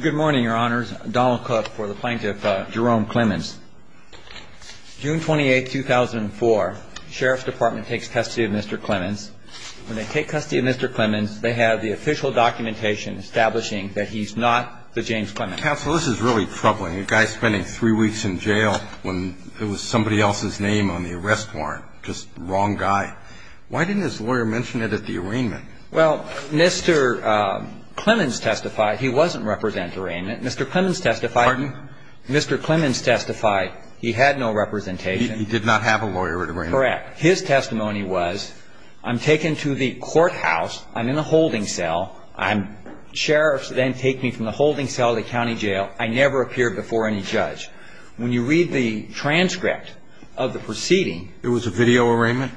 Good morning, Your Honors. Donald Cook for the Plaintiff, Jerome Clemmons. June 28, 2004, Sheriff's Department takes custody of Mr. Clemmons. When they take custody of Mr. Clemmons, they have the official documentation establishing that he's not the James Clemmons. Counsel, this is really troubling. A guy spending three weeks in jail when it was somebody else's name on the arrest warrant. Just the wrong guy. Why didn't his lawyer mention it at the arraignment? Well, Mr. Clemmons testified he wasn't representing at the arraignment. Mr. Clemmons testified. Pardon? Mr. Clemmons testified he had no representation. He did not have a lawyer at arraignment. Correct. His testimony was, I'm taken to the courthouse. I'm in a holding cell. Sheriffs then take me from the holding cell to the county jail. I never appeared before any judge. When you read the transcript of the proceeding. It was a video arraignment?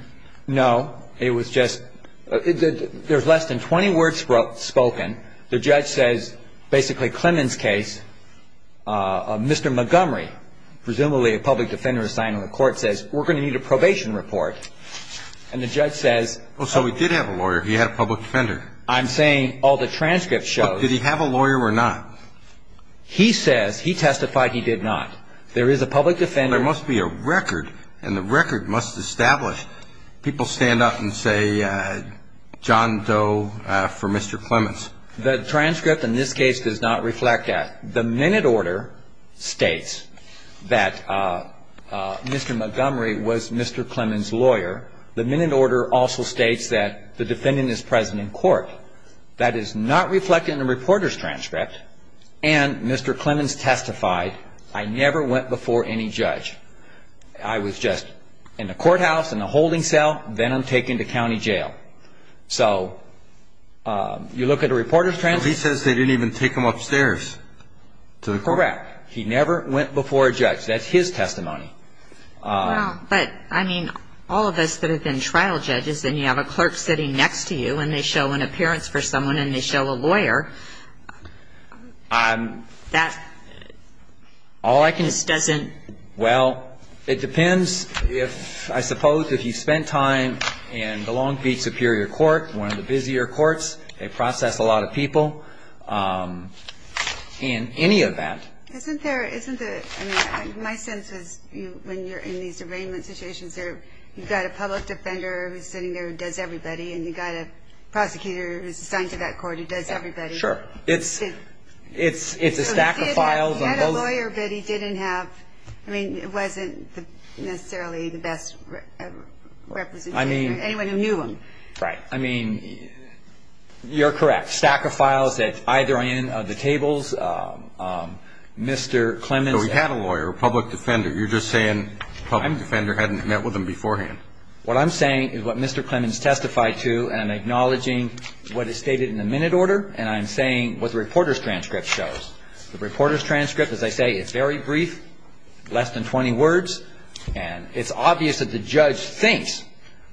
No. It was just, there's less than 20 words spoken. The judge says basically Clemmons' case, Mr. Montgomery, presumably a public defender assigned to the court, says we're going to need a probation report. And the judge says. So he did have a lawyer. He had a public defender. I'm saying all the transcript shows. Did he have a lawyer or not? He says he testified he did not. There is a public defender. There must be a record. And the record must establish. People stand up and say John Doe for Mr. Clemmons. The transcript in this case does not reflect that. The minute order states that Mr. Montgomery was Mr. Clemmons' lawyer. The minute order also states that the defendant is present in court. That is not reflected in the reporter's transcript. And Mr. Clemmons testified I never went before any judge. I was just in the courthouse, in the holding cell, then I'm taken to county jail. So you look at the reporter's transcript. He says they didn't even take him upstairs to the court. Correct. He never went before a judge. That's his testimony. But, I mean, all of us that have been trial judges and you have a clerk sitting next to you and they show an appearance for someone and they show a lawyer, that just doesn't. Well, it depends if, I suppose, if you spent time in the Long Beach Superior Court, one of the busier courts, they process a lot of people, in any event. Isn't there, isn't there, I mean, my sense is when you're in these arraignment situations, you've got a public defender who's sitting there and does everybody and you've got a prosecutor who's assigned to that court who does everybody. Sure. It's a stack of files on both. He had a lawyer, but he didn't have, I mean, it wasn't necessarily the best representation or anyone who knew him. Right. I mean, you're correct. Stack of files at either end of the tables. Mr. Clemens. So he had a lawyer, a public defender. You're just saying the public defender hadn't met with him beforehand. What I'm saying is what Mr. Clemens testified to and I'm acknowledging what is stated in the minute order and I'm saying what the reporter's transcript shows. The reporter's transcript, as I say, it's very brief, less than 20 words, and it's obvious that the judge thinks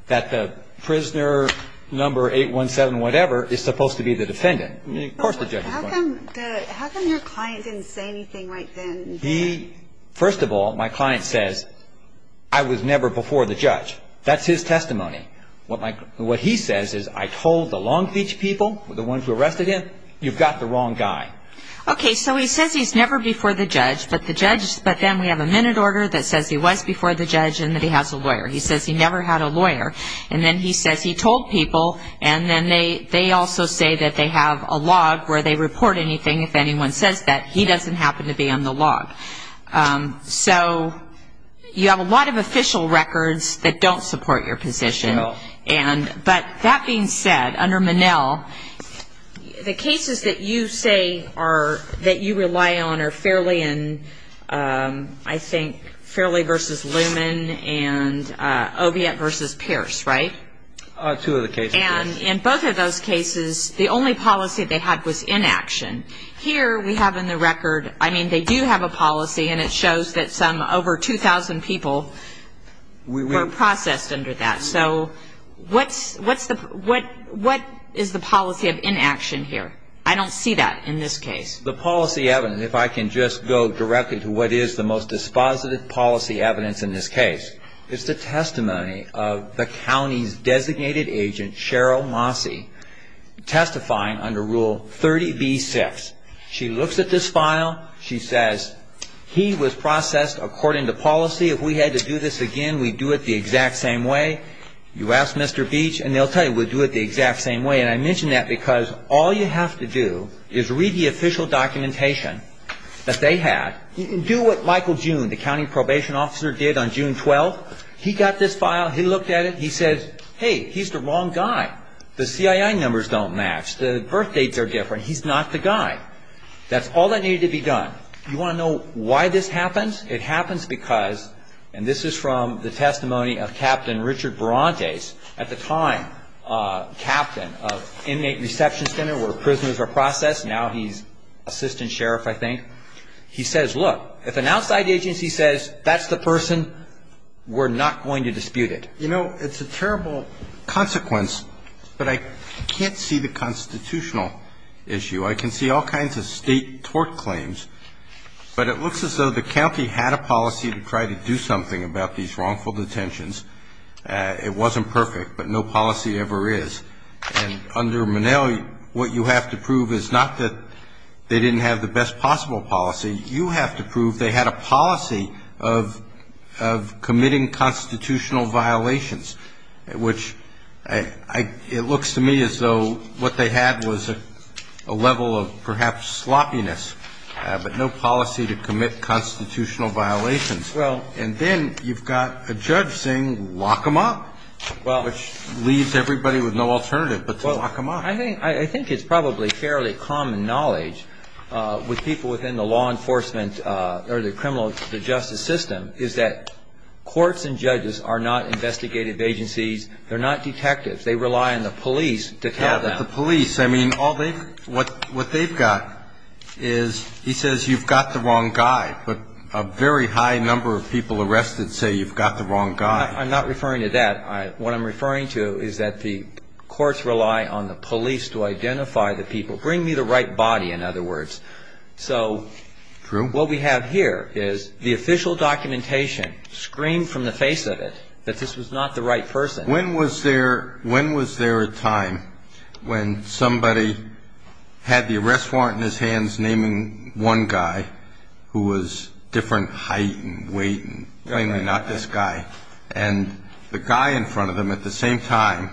that the prisoner number 817-whatever is supposed to be the defendant. How come your client didn't say anything right then? First of all, my client says I was never before the judge. That's his testimony. What he says is I told the Long Beach people, the ones who arrested him, you've got the wrong guy. Okay, so he says he's never before the judge, but then we have a minute order that says he was before the judge and that he has a lawyer. He says he never had a lawyer. And then he says he told people, and then they also say that they have a log where they report anything if anyone says that. He doesn't happen to be on the log. So you have a lot of official records that don't support your position. But that being said, under Minnell, the cases that you say are that you rely on are Fairley and, I think, Fairley versus Luman and Oviatt versus Pierce, right? Two of the cases, yes. And in both of those cases, the only policy they had was inaction. Here we have in the record, I mean, they do have a policy, and it shows that some over 2,000 people were processed under that. So what is the policy of inaction here? I don't see that in this case. The policy evidence, if I can just go directly to what is the most dispositive policy evidence in this case, is the testimony of the county's designated agent, Cheryl Mosse, testifying under Rule 30b-6. She looks at this file. She says he was processed according to policy. If we had to do this again, we'd do it the exact same way. You ask Mr. Beach, and they'll tell you we'll do it the exact same way. And I mention that because all you have to do is read the official documentation that they had. Do what Michael June, the county probation officer, did on June 12th. He got this file. He looked at it. He says, hey, he's the wrong guy. The CII numbers don't match. The birthdates are different. He's not the guy. That's all that needed to be done. You want to know why this happens? It happens because, and this is from the testimony of Captain Richard Berantes, at the time captain of Inmate Reception Center where prisoners are processed. Now he's assistant sheriff, I think. He says, look, if an outside agency says that's the person, we're not going to dispute it. You know, it's a terrible consequence, but I can't see the constitutional issue. I can see all kinds of State tort claims. But it looks as though the county had a policy to try to do something about these wrongful detentions. It wasn't perfect, but no policy ever is. And under Monell, what you have to prove is not that they didn't have the best possible policy. You have to prove they had a policy of committing constitutional violations, which it looks to me as though what they had was a level of perhaps sloppiness, but no policy to commit constitutional violations. And then you've got a judge saying lock them up, which leaves everybody with no alternative but to lock them up. I think it's probably fairly common knowledge with people within the law enforcement or the criminal justice system is that courts and judges are not investigative agencies. They're not detectives. They rely on the police to tell them. Yeah, but the police, I mean, what they've got is he says you've got the wrong guy, but a very high number of people arrested say you've got the wrong guy. I'm not referring to that. What I'm referring to is that the courts rely on the police to identify the people. Bring me the right body, in other words. True. What we have here is the official documentation screamed from the face of it that this was not the right person. When was there a time when somebody had the arrest warrant in his hands naming one guy who was different height and weight and plainly not this guy, and the guy in front of them at the same time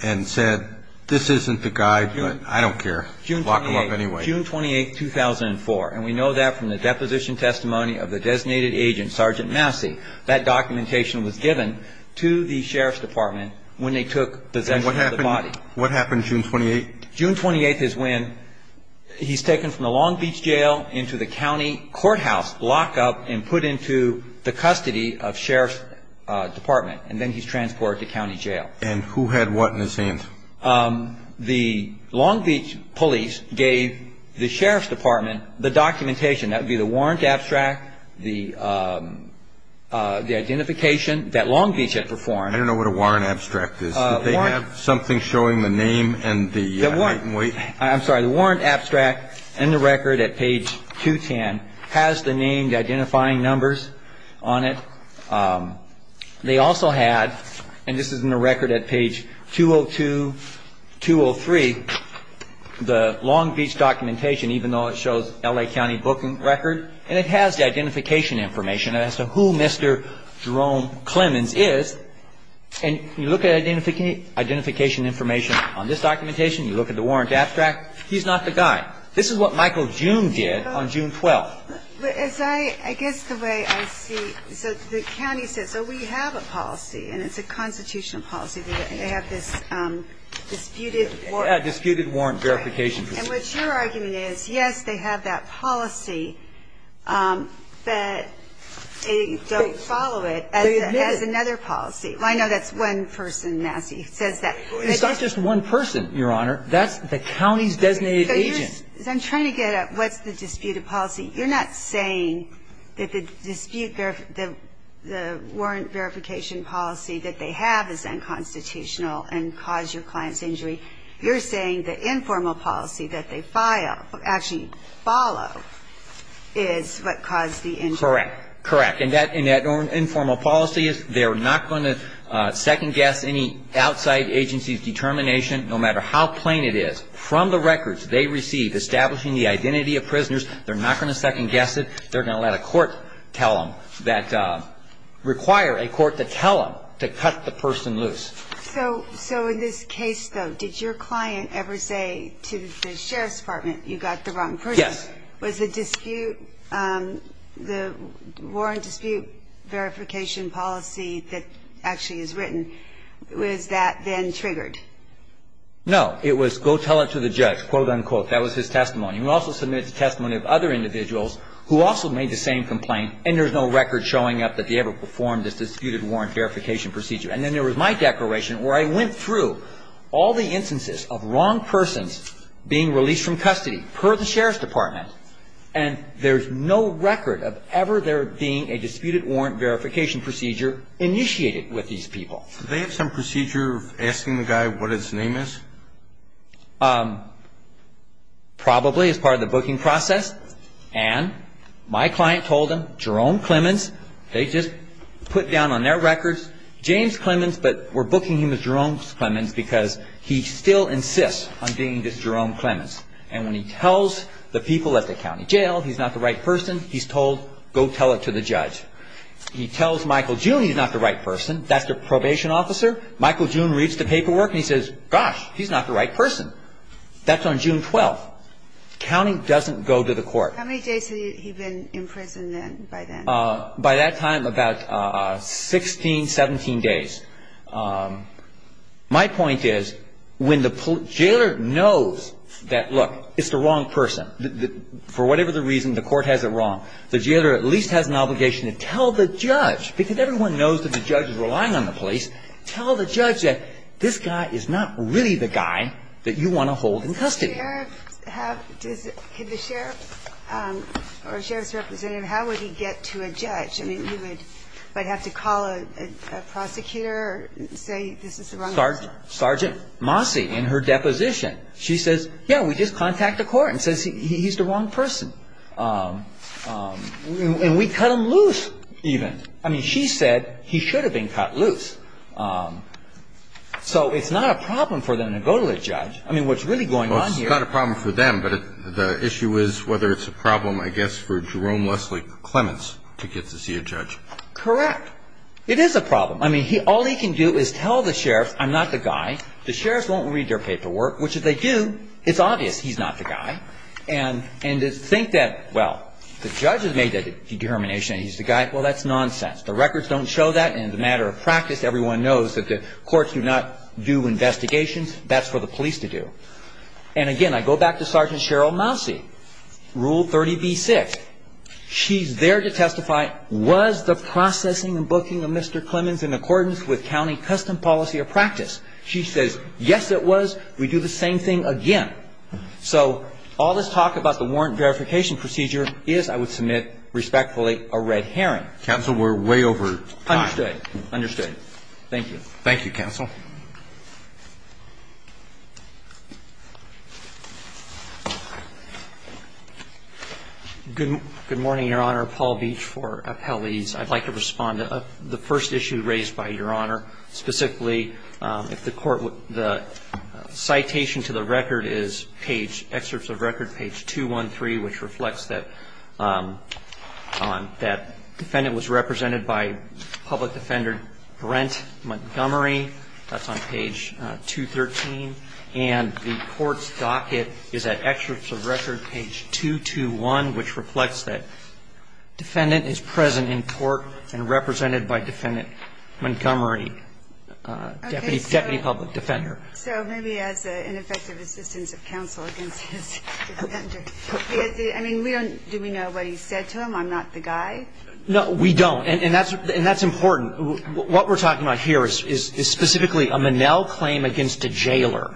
and said, this isn't the guy, but I don't care, lock him up anyway. June 28th, 2004, and we know that from the deposition testimony of the designated agent, Sergeant Massey. That documentation was given to the sheriff's department when they took possession of the body. What happened June 28th? June 28th is when he's taken from the Long Beach jail into the county courthouse lockup and put into the custody of sheriff's department, and then he's transported to county jail. And who had what in his hands? The Long Beach police gave the sheriff's department the documentation. That would be the warrant abstract, the identification that Long Beach had performed. I don't know what a warrant abstract is. They have something showing the name and the height and weight. I'm sorry. The warrant abstract and the record at page 210 has the named identifying numbers on it. They also had, and this is in the record at page 202, 203, the Long Beach documentation, even though it shows L.A. County booking record, and it has the identification information as to who Mr. Jerome Clemens is. And you look at identification information on this documentation, you look at the warrant abstract, he's not the guy. This is what Michael June did on June 12th. I guess the way I see it, so the county says, oh, we have a policy, and it's a constitutional policy. They have this disputed warrant. Disputed warrant verification. And what your argument is, yes, they have that policy, but they don't follow it as another policy. I know that's one person, Nassie, who says that. It's not just one person, Your Honor. That's the county's designated agent. I'm trying to get at what's the disputed policy. You're not saying that the dispute, the warrant verification policy that they have is unconstitutional and caused your client's injury. You're saying the informal policy that they file, actually follow, is what caused the injury. Correct. Correct. And that informal policy, they're not going to second-guess any outside agency's determination, no matter how plain it is. From the records they receive, establishing the identity of prisoners, they're not going to second-guess it. They're going to let a court tell them, require a court to tell them to cut the person loose. So in this case, though, did your client ever say to the Sheriff's Department, you got the wrong person? Yes. Was the dispute, the warrant dispute verification policy that actually is written, was that then triggered? No. It was go tell it to the judge, quote, unquote. That was his testimony. He also submitted the testimony of other individuals who also made the same complaint, and there's no record showing up that they ever performed this disputed warrant verification procedure. And then there was my declaration where I went through all the instances of wrong persons being released from custody, per the Sheriff's Department, and there's no record of ever there being a disputed warrant verification procedure initiated with these people. Did they have some procedure of asking the guy what his name is? Probably as part of the booking process. And my client told him, Jerome Clemens. They just put down on their records, James Clemens, but we're booking him as Jerome Clemens because he still insists on being just Jerome Clemens. And when he tells the people at the county jail he's not the right person, he's told, go tell it to the judge. He tells Michael June he's not the right person. That's the probation officer. Michael June reads the paperwork and he says, gosh, he's not the right person. That's on June 12th. The county doesn't go to the court. How many days had he been in prison by then? By that time, about 16, 17 days. My point is when the jailer knows that, look, it's the wrong person, for whatever the reason, the court has it wrong, the jailer at least has an obligation to tell the judge, because everyone knows that the judge is relying on the police, tell the judge that this guy is not really the guy that you want to hold in custody. Could the sheriff or sheriff's representative, how would he get to a judge? I mean, you would have to call a prosecutor and say this is the wrong person. Sergeant Mosse in her deposition, she says, yeah, we just contact the court and says he's the wrong person. And we cut him loose even. I mean, she said he should have been cut loose. So it's not a problem for them to go to a judge. I mean, what's really going on here. It's not a problem for them, but the issue is whether it's a problem, I guess, for Jerome Leslie Clements to get to see a judge. Correct. It is a problem. I mean, all he can do is tell the sheriff I'm not the guy. The sheriff won't read their paperwork, which if they do, it's obvious he's not the guy. And to think that, well, the judge has made that determination and he's the guy. Well, that's nonsense. The records don't show that. And as a matter of practice, everyone knows that the courts do not do investigations. That's for the police to do. And again, I go back to Sergeant Cheryl Mosse, Rule 30b-6. She's there to testify. Was the processing and booking of Mr. Clements in accordance with county custom policy or practice? She says, yes, it was. We do the same thing again. So all this talk about the warrant verification procedure is, I would submit, respectfully, a red herring. Counsel, we're way over time. Understood. Understood. Thank you. Thank you, counsel. Good morning, Your Honor. Paul Beach for Appellees. I'd like to respond to the first issue raised by Your Honor. Specifically, if the court would the citation to the record is page, excerpts of record, page 213, which reflects that defendant was represented by public defender Brent Montgomery. That's on page 213. And the court's docket is at excerpts of record page 221, which reflects that defendant is present in court and represented by defendant Montgomery, deputy public defender. So maybe as an effective assistance of counsel against his defender. I mean, do we know what he said to him, I'm not the guy? No, we don't. And that's important. What we're talking about here is specifically a Monell claim against a jailer.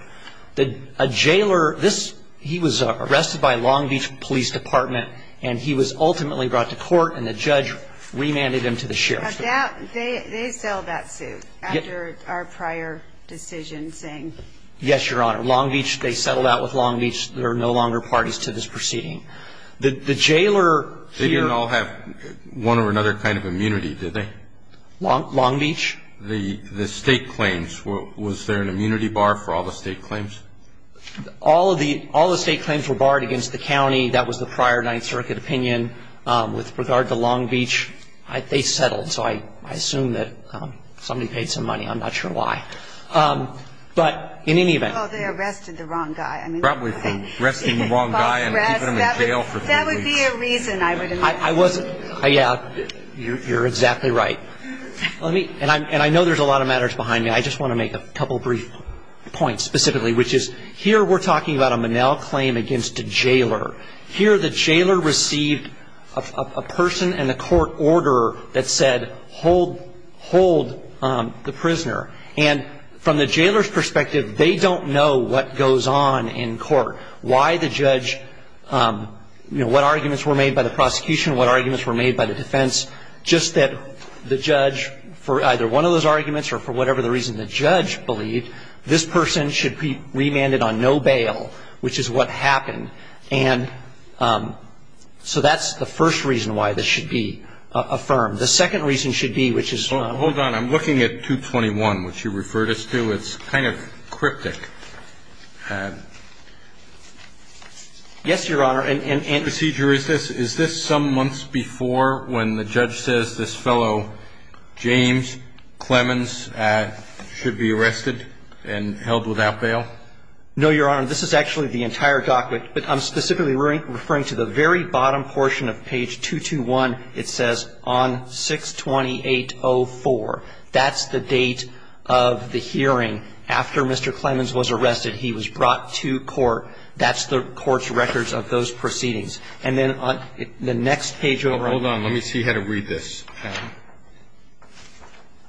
A jailer, this, he was arrested by Long Beach Police Department and he was ultimately brought to court and the judge remanded him to the sheriff. They settled that suit after our prior decision saying. Yes, Your Honor. Long Beach, they settled out with Long Beach. They're no longer parties to this proceeding. The jailer. They didn't all have one or another kind of immunity, did they? Long Beach? The state claims. Was there an immunity bar for all the state claims? All of the state claims were barred against the county. That was the prior Ninth Circuit opinion. With regard to Long Beach, they settled. So I assume that somebody paid some money. I'm not sure why. But in any event. Well, they arrested the wrong guy. Probably from arresting the wrong guy and keeping him in jail for three weeks. That would be a reason, I would imagine. I wasn't. You're exactly right. And I know there's a lot of matters behind me. I just want to make a couple of brief points specifically, which is here we're talking about a Monell claim against a jailer. Here the jailer received a person and a court order that said hold the prisoner. And from the jailer's perspective, they don't know what goes on in court, why the judge, you know, what arguments were made by the prosecution, what arguments were made by the defense. Just that the judge, for either one of those arguments or for whatever the reason the judge believed, this person should be remanded on no bail, which is what happened. And so that's the first reason why this should be affirmed. The second reason should be, which is. Hold on. I'm looking at 221, which you referred us to. It's kind of cryptic. Yes, Your Honor. Is this some months before when the judge says this fellow, James Clemens, should be arrested and held without bail? No, Your Honor. This is actually the entire document. But I'm specifically referring to the very bottom portion of page 221. It says on 6-2804. That's the date of the hearing after Mr. Clemens was arrested. He was brought to court. That's the court's records of those proceedings. And then the next page over. Hold on. Let me see how to read this.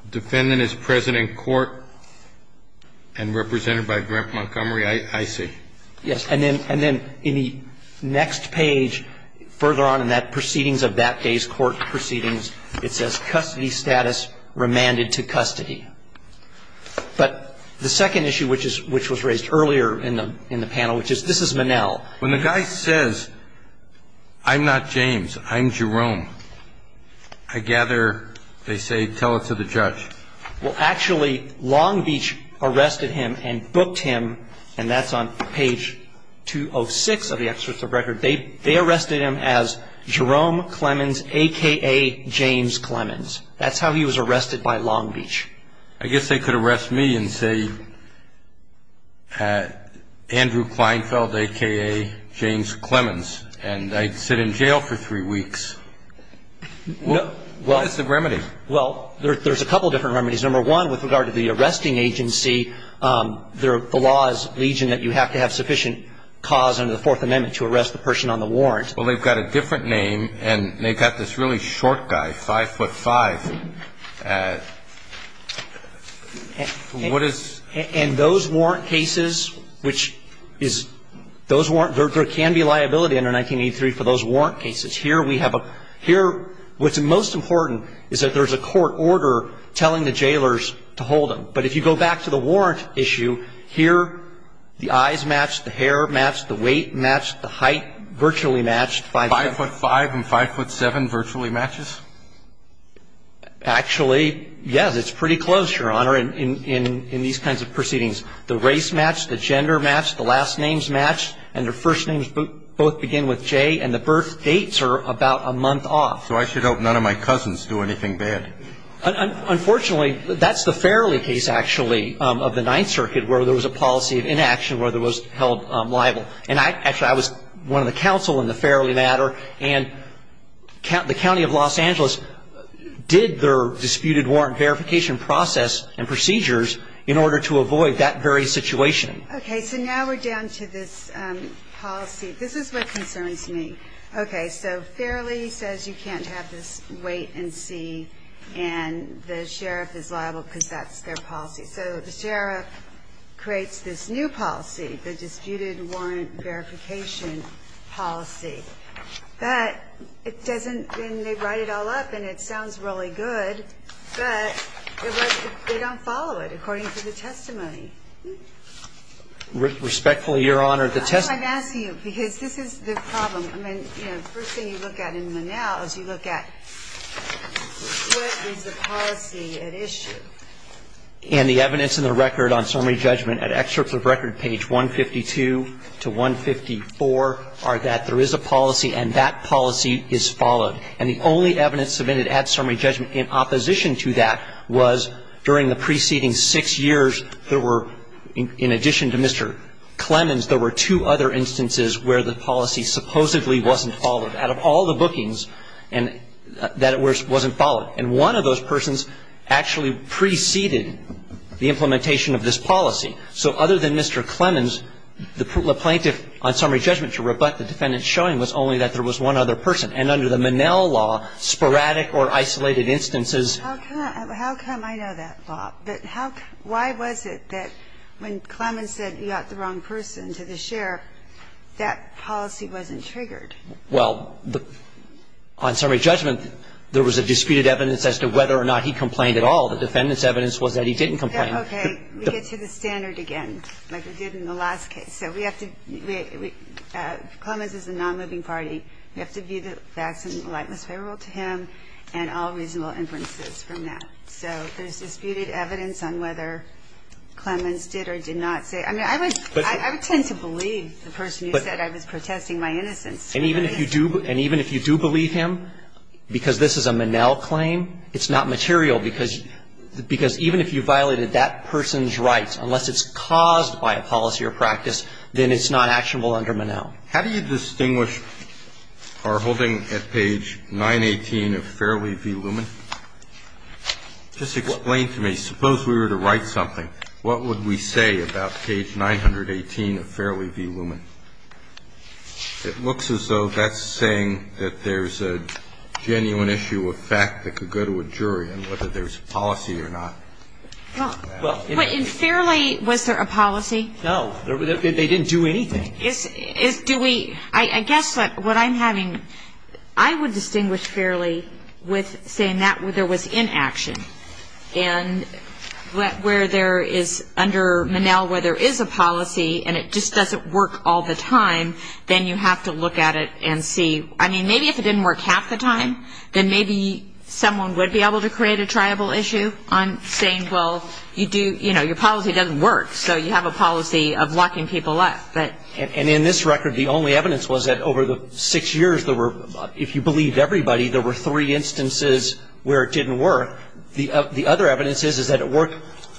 Defendant is present in court and represented by Grandpa Montgomery. I see. Yes. And then in the next page further on in that proceedings of that day's court proceedings, it says custody status remanded to custody. But the second issue, which was raised earlier in the panel, which is this is Minnell. When the guy says, I'm not James, I'm Jerome, I gather they say tell it to the judge. Well, actually, Long Beach arrested him and booked him, and that's on page 206 of the excerpt of the record. They arrested him as Jerome Clemens, a.k.a. James Clemens. That's how he was arrested by Long Beach. I guess they could arrest me and say Andrew Kleinfeld, a.k.a. James Clemens, and I'd sit in jail for three weeks. What is the remedy? Well, there's a couple different remedies. Number one, with regard to the arresting agency, the law is legion that you have to have sufficient cause under the Fourth Amendment to arrest the person on the warrant. Well, they've got a different name, and they've got this really short guy, 5'5". What is the remedy? And those warrant cases, which is those warrant cases, there can be liability under 1983 for those warrant cases. Here we have a – here what's most important is that there's a court order telling the jailers to hold him. But if you go back to the warrant issue, here the eyes match, the hair match, the weight match, the height virtually match. 5'5 and 5'7 virtually matches? Actually, yes. It's pretty close, Your Honor, in these kinds of proceedings. The race match, the gender match, the last names match, and their first names both begin with J, and the birth dates are about a month off. So I should hope none of my cousins do anything bad. Unfortunately, that's the Farrelly case, actually, of the Ninth Circuit, where there was a policy of inaction where there was held liable. And actually, I was one of the counsel in the Farrelly matter, and the county of Los Angeles did their disputed warrant verification process and procedures in order to avoid that very situation. Okay. So now we're down to this policy. This is what concerns me. Okay. So Farrelly says you can't have this weight and C, and the sheriff is liable because that's their policy. So the sheriff creates this new policy, the disputed warrant verification policy. But it doesn't ñ and they write it all up, and it sounds really good, but they don't follow it according to the testimony. Respectfully, Your Honor, the testimony ñ I'm asking you because this is the problem. I mean, you know, the first thing you look at in the now is you look at what is the policy at issue. And the evidence in the record on summary judgment at excerpts of record, page 152 to 154, are that there is a policy and that policy is followed. And the only evidence submitted at summary judgment in opposition to that was during the preceding six years there were, in addition to Mr. Clemens, there were two other instances where the policy supposedly wasn't followed out of all the bookings, and that it wasn't followed. And one of those persons actually preceded the implementation of this policy. So other than Mr. Clemens, the plaintiff on summary judgment to rebut the defendant's showing was only that there was one other person. And under the Minnell law, sporadic or isolated instances ñ that policy wasn't triggered. Well, on summary judgment, there was a disputed evidence as to whether or not he complained at all. The defendant's evidence was that he didn't complain. Okay. We get to the standard again, like we did in the last case. So we have to ñ Clemens is a nonmoving party. We have to view the facts in the light that's favorable to him and all reasonable inferences from that. So there's disputed evidence on whether Clemens did or did not say. I mean, I would tend to believe the person who said I was protesting my innocence. And even if you do believe him, because this is a Minnell claim, it's not material because even if you violated that person's rights, unless it's caused by a policy or practice, then it's not actionable under Minnell. How do you distinguish our holding at page 918 of Fairley v. Lumen? Just explain to me. Suppose we were to write something. What would we say about page 918 of Fairley v. Lumen? It looks as though that's saying that there's a genuine issue of fact that could go to a jury on whether there's a policy or not. Well, in Fairley, was there a policy? They didn't do anything. I guess what I'm having, I would distinguish Fairley with saying that there was inaction. And where there is under Minnell where there is a policy and it just doesn't work all the time, then you have to look at it and see. I mean, maybe if it didn't work half the time, then maybe someone would be able to create a triable issue on saying, well, you do, you know, your policy doesn't work, so you have a policy of locking people up. Right. And in this record, the only evidence was that over the six years there were, if you believed everybody, there were three instances where it didn't work. The other evidence is that it worked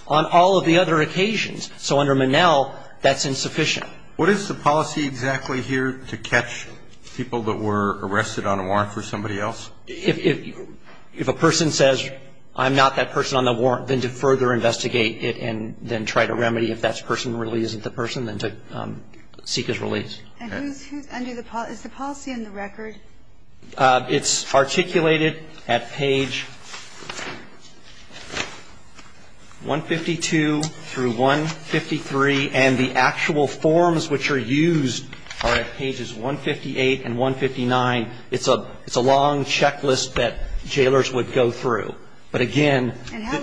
on all of the other occasions. So under Minnell, that's insufficient. What is the policy exactly here to catch people that were arrested on a warrant for somebody else? If a person says, I'm not that person on the warrant, then to further investigate it and then try to remedy if that person really isn't the person, then to seek his release. And who's under the policy? Is the policy in the record? It's articulated at page 152 through 153. And the actual forms which are used are at pages 158 and 159. It's a long checklist that jailors would go through. But, again the And how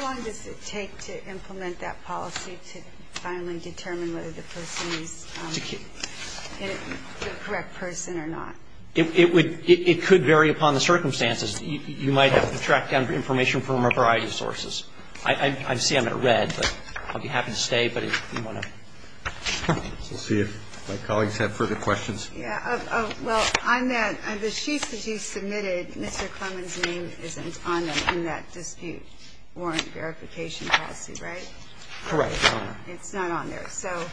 long does it take to implement that policy to finally determine whether the person is the correct person or not? It would, it could vary upon the circumstances. You might have to track down information from a variety of sources. I see I'm at red, but I'll be happy to stay, but if you want to. We'll see if my colleagues have further questions. Yeah. Well, on that, the sheets that you submitted, Mr. Clement's name isn't on them in that dispute warrant verification policy, right? Correct, Your Honor. It's not on there. So.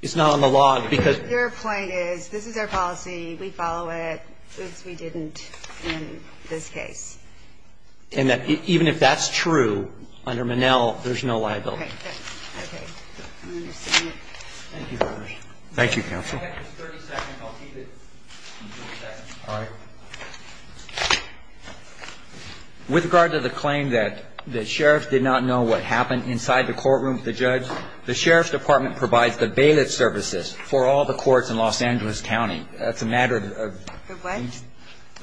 It's not on the log, because. Their point is, this is our policy, we follow it. Oops, we didn't in this case. And even if that's true, under Minnell, there's no liability. Right. Okay. I understand it. Thank you very much. Thank you, counsel. If I have just 30 seconds, I'll keep it in 30 seconds. All right. With regard to the claim that the sheriff did not know what happened inside the courtroom with the judge, the sheriff's department provides the bailiff services for all the courts in Los Angeles County. That's a matter of. The what?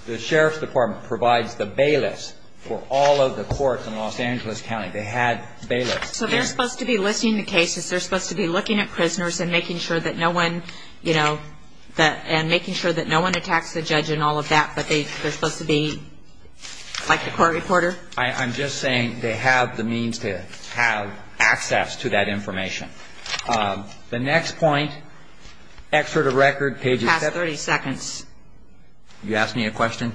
The sheriff's department provides the bailiffs for all of the courts in Los Angeles County. They had bailiffs. So they're supposed to be listing the cases, they're supposed to be looking at prisoners and making sure that no one, you know. And making sure that no one attacks the judge and all of that. But they're supposed to be like the court reporter. I'm just saying they have the means to have access to that information. The next point. Excerpt of record, page. Past 30 seconds. You asked me a question?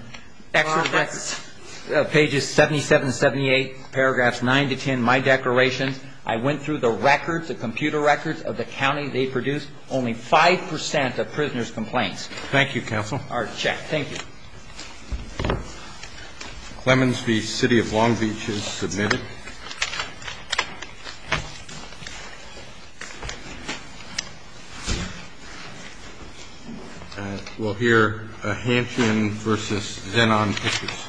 Excerpt of record. Pages 77 and 78, paragraphs 9 to 10, my declaration. I went through the records, the computer records of the county. They produced only 5% of prisoners' complaints. Thank you, counsel. All right. Check. Thank you. Clemens v. City of Long Beach is submitted. And we'll hear Hansen v. Zenon pictures.